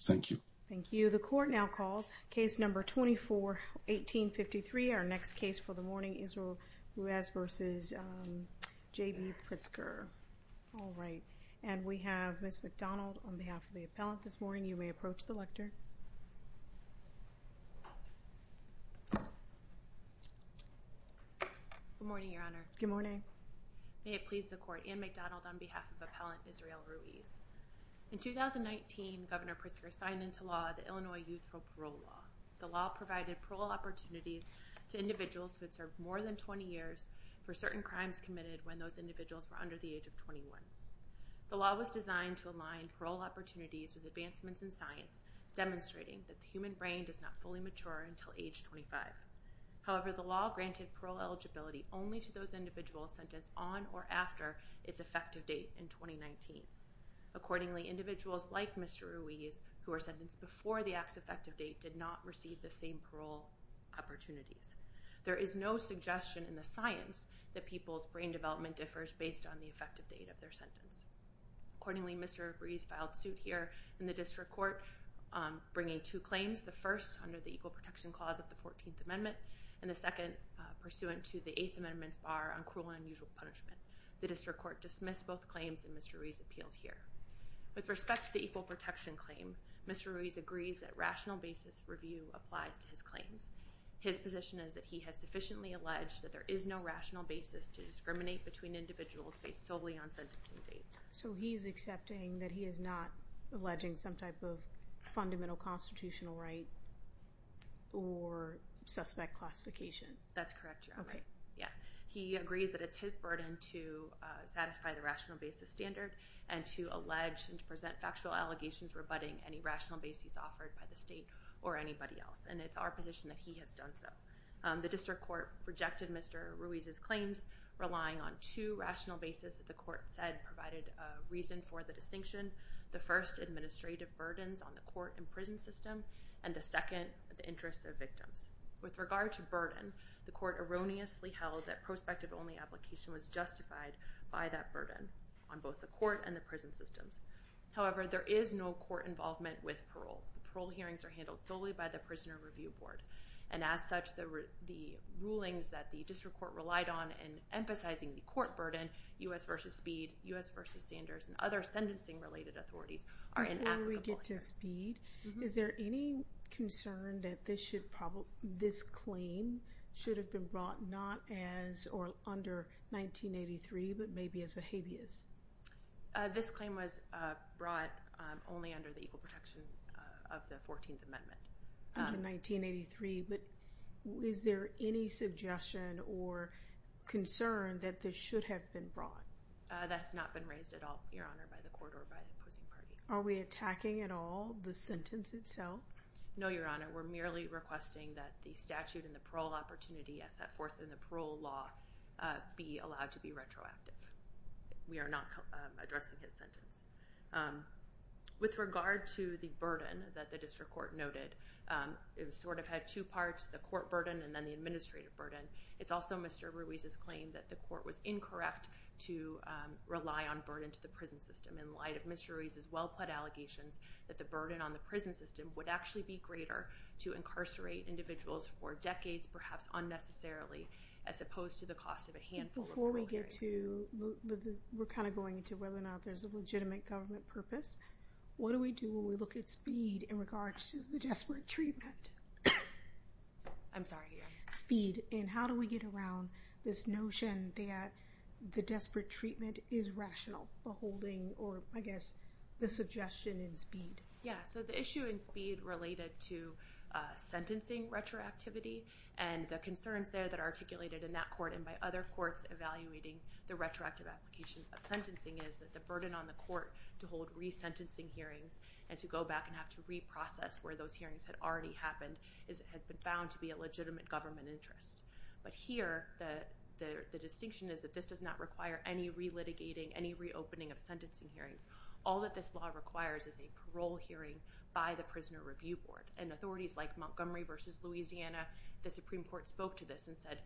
Thank you. Thank you. The court now calls case number 24-1853, our next case for the morning, Israel Ruiz v. J.B. Pritzker. All right, and we have Ms. McDonald on behalf of the appellant this morning. You may approach the lectern. Good morning, Your Honor. Good morning. May it please the court, Ann McDonald on behalf of appellant Israel Ruiz. In 2019, Governor Pritzker signed into law the Illinois Youth Parole Law. The law provided parole opportunities to individuals who had served more than 20 years for certain crimes committed when those individuals were under the age of 21. The law was designed to align parole opportunities with advancements in science, demonstrating that the human brain does not fully mature until age 25. However, the law granted parole eligibility only to those individuals sentenced on or after its effective date in 2019. Accordingly, individuals like Mr. Ruiz, who were sentenced before the act's effective date, did not receive the same parole opportunities. There is no suggestion in the science that people's brain development differs based on the effective date of their sentence. Accordingly, Mr. Ruiz filed suit here in the district court, bringing two claims, the first under the Equal Protection Clause of the 14th Amendment, and the second pursuant to the 8th Amendment's Cruel and Unusual Punishment. The district court dismissed both claims and Mr. Ruiz appealed here. With respect to the Equal Protection Claim, Mr. Ruiz agrees that rational basis review applies to his claims. His position is that he has sufficiently alleged that there is no rational basis to discriminate between individuals based solely on sentencing dates. So he's accepting that he is not alleging some type of fundamental constitutional right or suspect classification? That's correct, Your Honor. Okay. Yeah, he agrees that it's his burden to satisfy the rational basis standard and to allege and to present factual allegations rebutting any rational basis offered by the state or anybody else, and it's our position that he has done so. The district court rejected Mr. Ruiz's claims, relying on two rational basis that the court said provided a reason for the distinction. The first, administrative burdens on the court and system, and the second, the interests of victims. With regard to burden, the court erroneously held that prospective-only application was justified by that burden on both the court and the prison systems. However, there is no court involvement with parole. The parole hearings are handled solely by the Prisoner Review Board, and as such, the rulings that the district court relied on in emphasizing the court burden, U.S. v. Speed, U.S. v. Sanders, and other sentencing-related authorities are in applicable here. Before we get to Speed, is there any concern that this should probably, this claim should have been brought not as, or under 1983, but maybe as a habeas? This claim was brought only under the Equal Protection of the 14th Amendment. Under 1983, but is there any suggestion or concern that this should have been brought? That's not been raised at all, Your Honor, by the court or by the opposing party. Are we attacking at all the sentence itself? No, Your Honor. We're merely requesting that the statute and the parole opportunity as set forth in the parole law be allowed to be retroactive. We are not addressing his sentence. With regard to the burden that the district court noted, it sort of had two parts, the court burden and then the administrative burden. It's also Mr. Ruiz's claim that the court was incorrect to rely on burden to the prison system. In light of Mr. Ruiz's well-pled allegations, that the burden on the prison system would actually be greater to incarcerate individuals for decades, perhaps unnecessarily, as opposed to the cost of a handful of parole years. Before we get to, we're kind of going into whether or not there's a legitimate government purpose, what do we do when we look at Speed in regards to the desperate treatment? I'm sorry. Speed, and how do we get around this notion that the desperate treatment is rational, beholding, or I guess, the suggestion in Speed? Yeah, so the issue in Speed related to sentencing retroactivity and the concerns there that articulated in that court and by other courts evaluating the retroactive applications of sentencing is that the burden on the court to hold resentencing hearings and to go back and have to reprocess where those hearings had already happened has been found to be a distinction is that this does not require any re-litigating, any reopening of sentencing hearings. All that this law requires is a parole hearing by the Prisoner Review Board and authorities like Montgomery v. Louisiana, the Supreme Court spoke to this and said,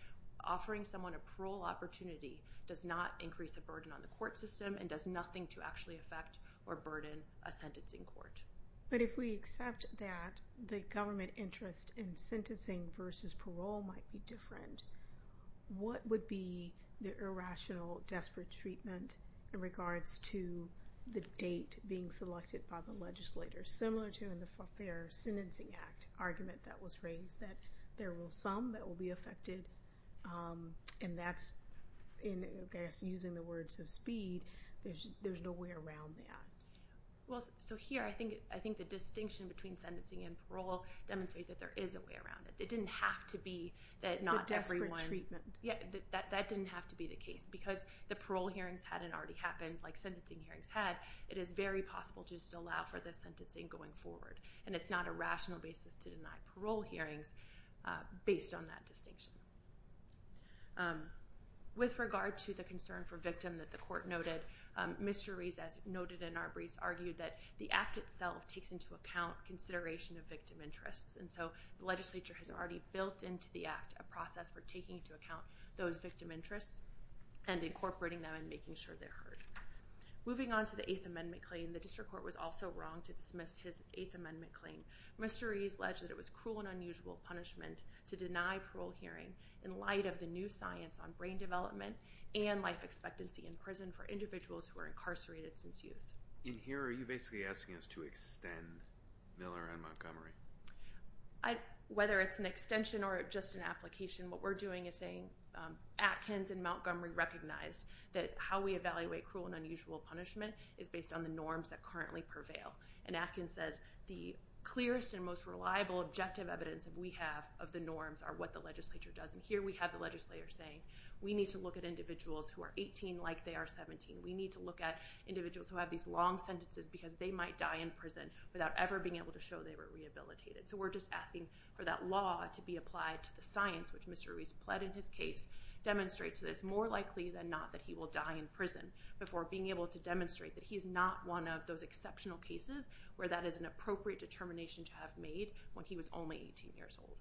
offering someone a parole opportunity does not increase a burden on the court system and does nothing to actually affect or burden a sentencing court. But if we accept that the government interest in sentencing versus parole might be different, what would be the irrational desperate treatment in regards to the date being selected by the legislators? Similar to in the Fair Sentencing Act argument that was raised that there will be some that will be affected and that's, I guess, using the words of Speed, there's no way around that. Well, so here I think the distinction between sentencing and parole demonstrate that there is a way around it. It didn't have to be that not everyone... The desperate treatment. Yeah, that didn't have to be the case because the parole hearings hadn't already happened like sentencing hearings had. It is very possible just to allow for this sentencing going forward and it's not a rational basis to deny parole hearings based on that distinction. With regard to the concern for victim that the court noted, Mr. Rees, as noted in our briefs, argued that the act itself takes into account consideration of victim interests and so the legislature has already built into the act a process for taking into account those victim interests and incorporating them and making sure they're heard. Moving on to the Eighth Amendment claim, the district court was also wrong to dismiss his Eighth Amendment claim. Mr. Rees alleged that it was cruel and unusual punishment to deny parole hearing in light of the new science on brain development and life expectancy in prison for individuals who are incarcerated since youth. In here, are you basically asking us to extend Miller and Montgomery? Whether it's an extension or just an application, what we're doing is saying Atkins and Montgomery recognized that how we evaluate cruel and unusual punishment is based on the norms that currently prevail and Atkins says the clearest and most reliable objective evidence that we have of the norms are what the legislature does and here we have the legislature saying we need to look at individuals who are 18 like they are 17. We need to look at individuals who have these long sentences because they might die in prison without ever being able to show they were rehabilitated. So we're just asking for that law to be applied to the science which Mr. Rees pled in his case demonstrates that it's more likely than not that he will die in prison before being able to demonstrate that he's not one of those exceptional cases where that is an appropriate determination to have made when he was only 18 years old.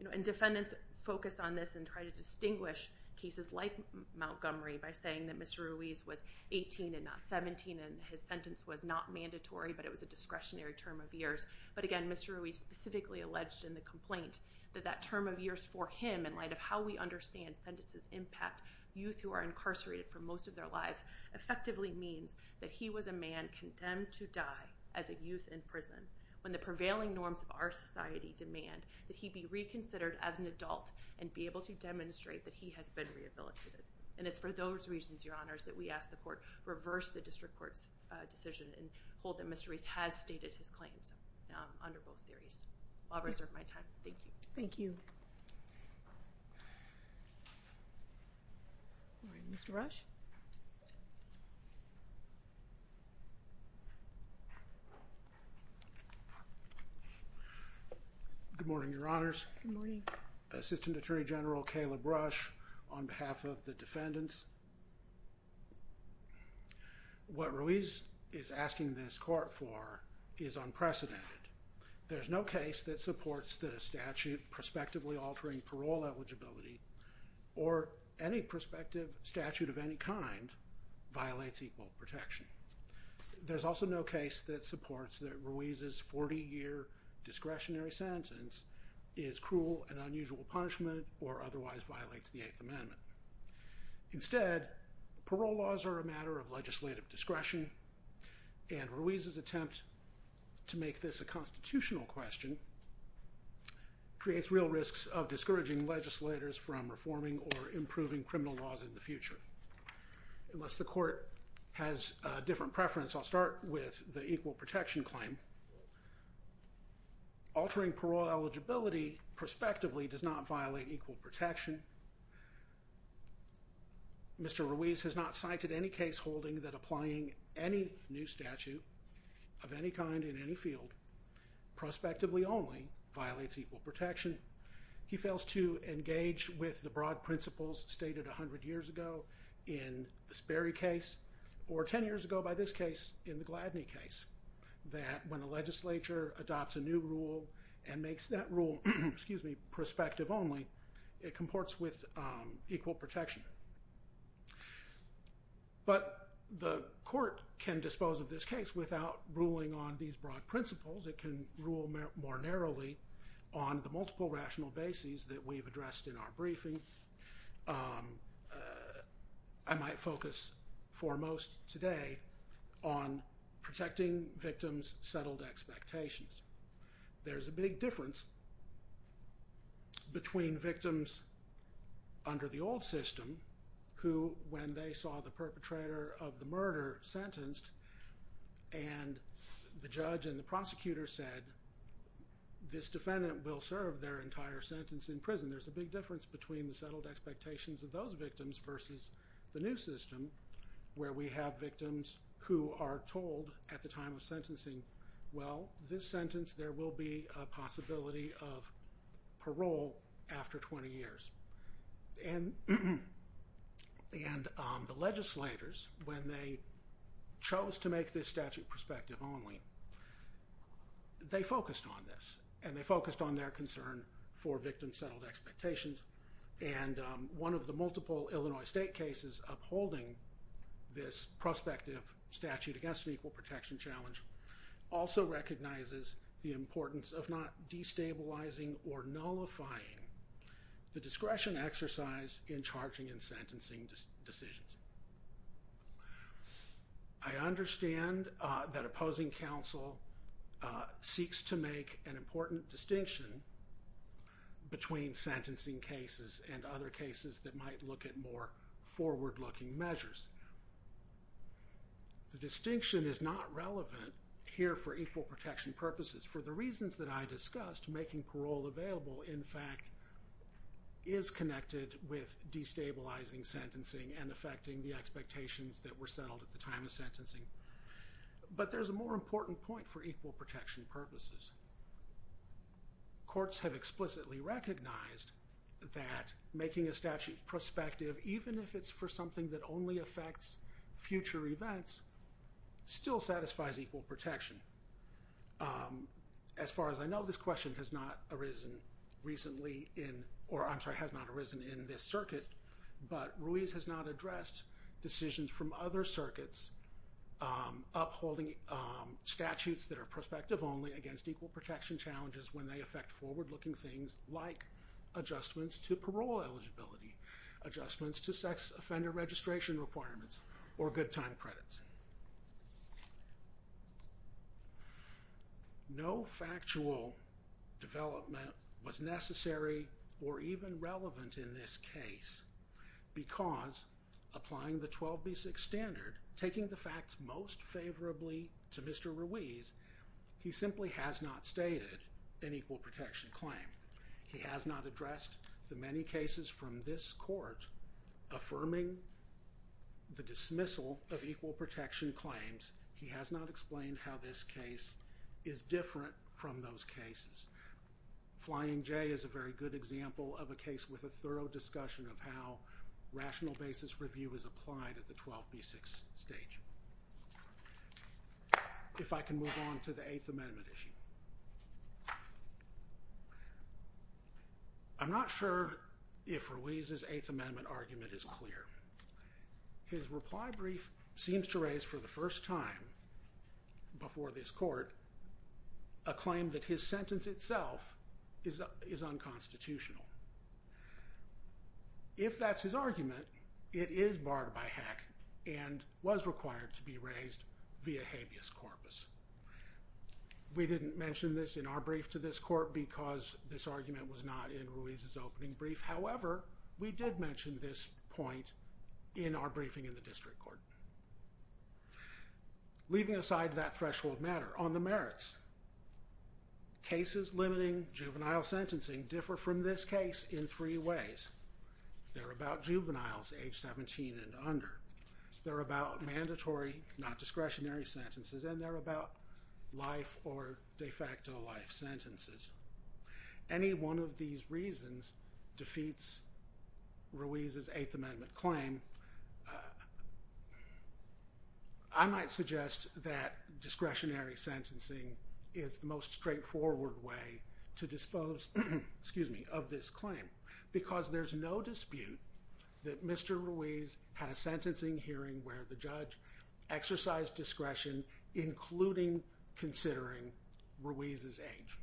You know and defendants focus on this and try to distinguish cases like Montgomery by saying that Mr. Rees was 18 and not 17 and his sentence was not mandatory but it was a discretionary term of years but again Mr. Rees specifically alleged in the complaint that that term of years for him in light of how we understand sentences impact youth who are incarcerated for most of their lives effectively means that he was a man condemned to die as a youth in prison when the prevailing norms of our society demand that he be reconsidered as an adult and be able to demonstrate that he has been rehabilitated and it's for those reasons your honors that we ask the court reverse the district court's decision and hold that Mr. Rees has stated his claims under both theories. I'll reserve my time. Thank you. Thank you. Mr. Rush. Good morning your honors. Assistant Attorney General Kayla Brush on behalf of the defendants. What Rees is asking this court for is unprecedented. There's no case that supports that a statute prospectively altering parole eligibility or any prospective statute of any kind violates equal protection. There's also no case that supports that Rees's 40-year discretionary sentence is cruel and unusual punishment or otherwise violates the Eighth Amendment. Instead parole laws are a matter of legislative discretion and Rees's attempt to make this a constitutional question creates real risks of discouraging legislators from reforming or improving criminal laws in the future. Unless the court has different preference I'll start with the equal protection claim. Altering parole eligibility prospectively does not violate equal protection. Mr. Rees has not cited any case holding that applying any new statute of any kind in any field prospectively only violates equal protection. He fails to engage with the broad principles stated a hundred years ago in the Sperry case or ten years ago by this case in the Gladney case that when a legislature adopts a new rule and makes that rule, excuse me, prospective only it comports with equal protection. But the court can dispose of this case without ruling on these broad principles. It can rule more narrowly on the multiple rational bases that we've addressed in our briefing. I might focus foremost today on protecting victims settled expectations. There's a big difference between victims under the old system who when they saw the perpetrator of the murder sentenced and the judge and the prosecutor said this defendant will serve their entire sentence in there's a big difference between the settled expectations of those victims versus the new system where we have victims who are told at the time of sentencing well this sentence there will be a possibility of parole after 20 years. And the legislators when they chose to make this statute prospective only they focused on this and they focused on their concern for victims settled expectations and one of the multiple Illinois state cases upholding this prospective statute against an equal protection challenge also recognizes the importance of not destabilizing or nullifying the discretion exercise in charging and sentencing decisions. I understand that opposing counsel seeks to make an important distinction between sentencing cases and other cases that might look at more forward-looking measures. The distinction is not relevant here for equal protection purposes for the reasons that I discussed making parole available in fact is connected with destabilizing sentencing and affecting the expectations that were settled at the time of sentencing. But there's a more important point for equal protection purposes. Courts have explicitly recognized that making a statute prospective even if it's for something that only affects future events still satisfies equal protection. As far as I know this question has not arisen recently in or I'm sorry has not arisen in this circuit but Ruiz has not addressed decisions from other circuits upholding statutes that are prospective only against equal protection challenges when they affect forward-looking things like adjustments to parole eligibility, adjustments to sex offender registration requirements or good time credits. No factual development was necessary or even relevant in this case because applying the 12b6 standard taking the facts most favorably to Mr. Ruiz he simply has not stated an equal protection claim. He has not addressed the many cases from this court affirming the dismissal of equal protection claims. He has not explained how this case is different from those cases. Flying J is a very good example of a case with a thorough discussion of how rational basis review is applied at the 12b6 stage. If I can move on to the Eighth Amendment issue. I'm not sure if Ruiz's Eighth Amendment argument is clear. His reply brief seems to raise for the first time before this court a claim that his sentence itself is unconstitutional. If that's his argument it is barred by HEC and was required to be raised via habeas corpus. We didn't mention this in our brief to this court because this argument was not in Ruiz's opening brief however we did mention this point in our briefing in the district court. Leaving aside that threshold matter on the merits. Cases limiting juvenile sentencing differ from this case in three ways. They're about juveniles age 17 and under. They're about mandatory not discretionary sentences and they're about life or de facto life sentences. Any one of these reasons defeats Ruiz's Eighth Amendment claim. I might suggest that discretionary sentencing is the most straightforward way to dispose of this claim because there's no dispute that Mr. Ruiz had a sentencing hearing where the judge exercised discretion including considering Ruiz's age.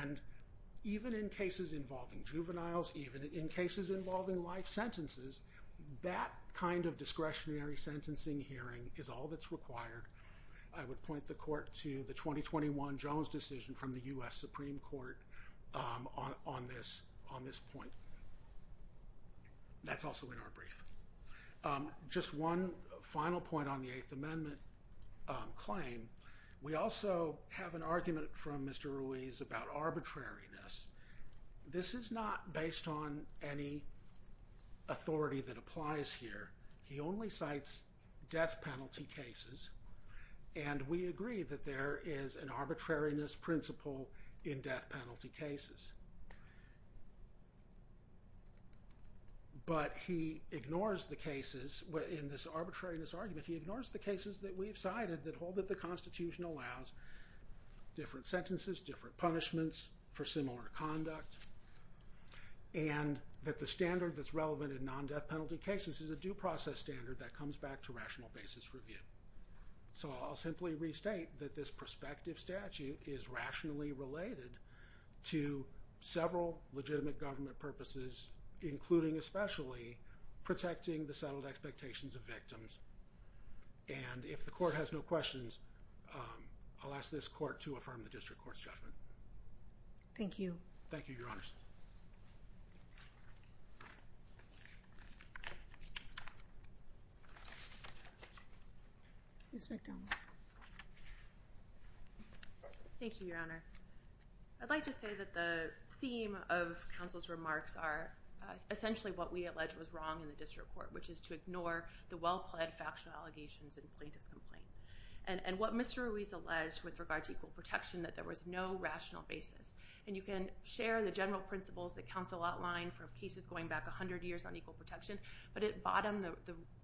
And even in cases involving juveniles, even in cases involving life sentences, that kind of discretionary sentencing hearing is all that's required. I would point the court to the 2021 Jones decision from the US Supreme Court on this point. That's also in our brief. Just one final point on the Eighth Amendment claim. We also have an argument from Mr. Ruiz about arbitrariness. This is not based on any authority that applies here. He only cites death penalty cases and we agree that there is an arbitrariness principle in death penalty cases. But he ignores the cases in this arbitrariness argument. He ignores the cases that we've cited that hold that the Constitution allows different sentences, different punishments for similar conduct and that the standard that's relevant in non-death penalty cases is a due process standard that comes back to rational basis review. So I'll simply restate that this prospective statute is rationally related to several legitimate government purposes including especially protecting the settled expectations of victims. And if the court has no questions, I'll ask this court to affirm the District Court's judgment. Thank you. Thank you, Your Honors. Ms. McDonald. Thank you, Your Honor. I'd like to say that the theme of counsel's remarks are essentially what we allege was wrong in the District Court, which is to ignore the well-pledged factional allegations in plaintiff's complaint. And what Mr. Ruiz alleged with regard to equal protection that there was no rational basis. And you can share the general principles that counsel outlined for cases going back a hundred years on equal protection, but at bottom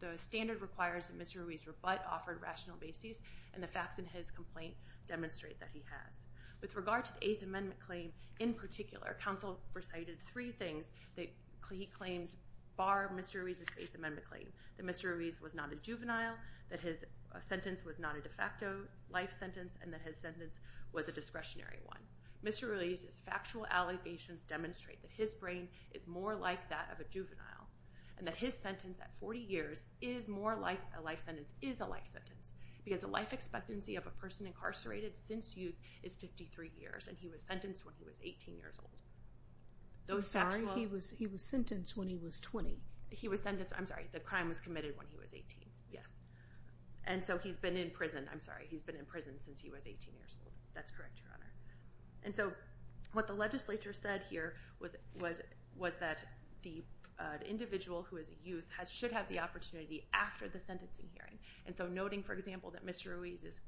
the standard requires that Mr. Ruiz but offered rational basis and the facts in his complaint demonstrate that he has. With regard to the Eighth Amendment claim in particular, counsel recited three things that he claims bar Mr. Ruiz's Eighth Amendment claim. That Mr. Ruiz was not a juvenile, that his sentence was not a de facto life sentence, and that his sentence was a discretionary one. Mr. Ruiz's factual allegations demonstrate that his brain is more like that of a juvenile and that his sentence at 40 years is more like a life sentence, is a life sentence, because the life expectancy of a person incarcerated since youth is 53 years and he was sentenced when he was 18 years old. I'm sorry, he was sentenced when he was 20. He was sentenced, I'm sorry, the crime was committed when he was 18, yes. And so he's been in prison, I'm sorry, he's been in prison since he was 18 years old. That's correct, Your Honor. And so what the legislature said here was that the individual who is a youth should have the opportunity after the sentencing hearing. And so noting, for example, that Mr. Ruiz's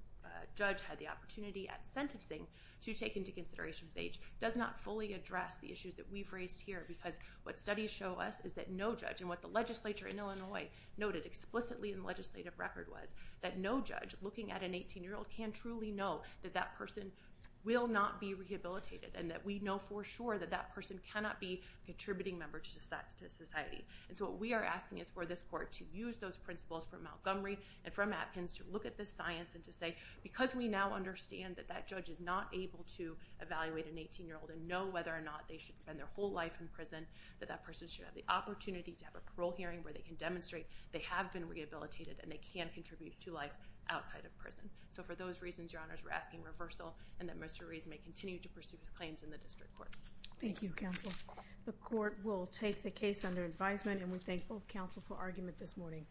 judge had the opportunity at sentencing to take into consideration his age does not fully address the issues that we've raised here, because what studies show us is that no judge, and what the legislature in Illinois noted explicitly in the legislative record was, that no judge looking at an 18-year-old can truly know that that person will not be rehabilitated and that we know for sure that that person cannot be a contributing member to society. And so what we are asking is for this court to use those principles from Montgomery and from Atkins to look at this science and to say, because we now understand that that judge is not able to evaluate an 18-year-old and know whether or not they should spend their whole life in prison, that that person should have the opportunity to have a parole hearing where they can demonstrate they have been rehabilitated and they can contribute to life outside of prison. So for those reasons, Your Honors, we're asking reversal and that Mr. Ruiz may continue to pursue his claims in the district court. Thank you, counsel. The court will take the case under advisement and we thank both counsel for argument this morning.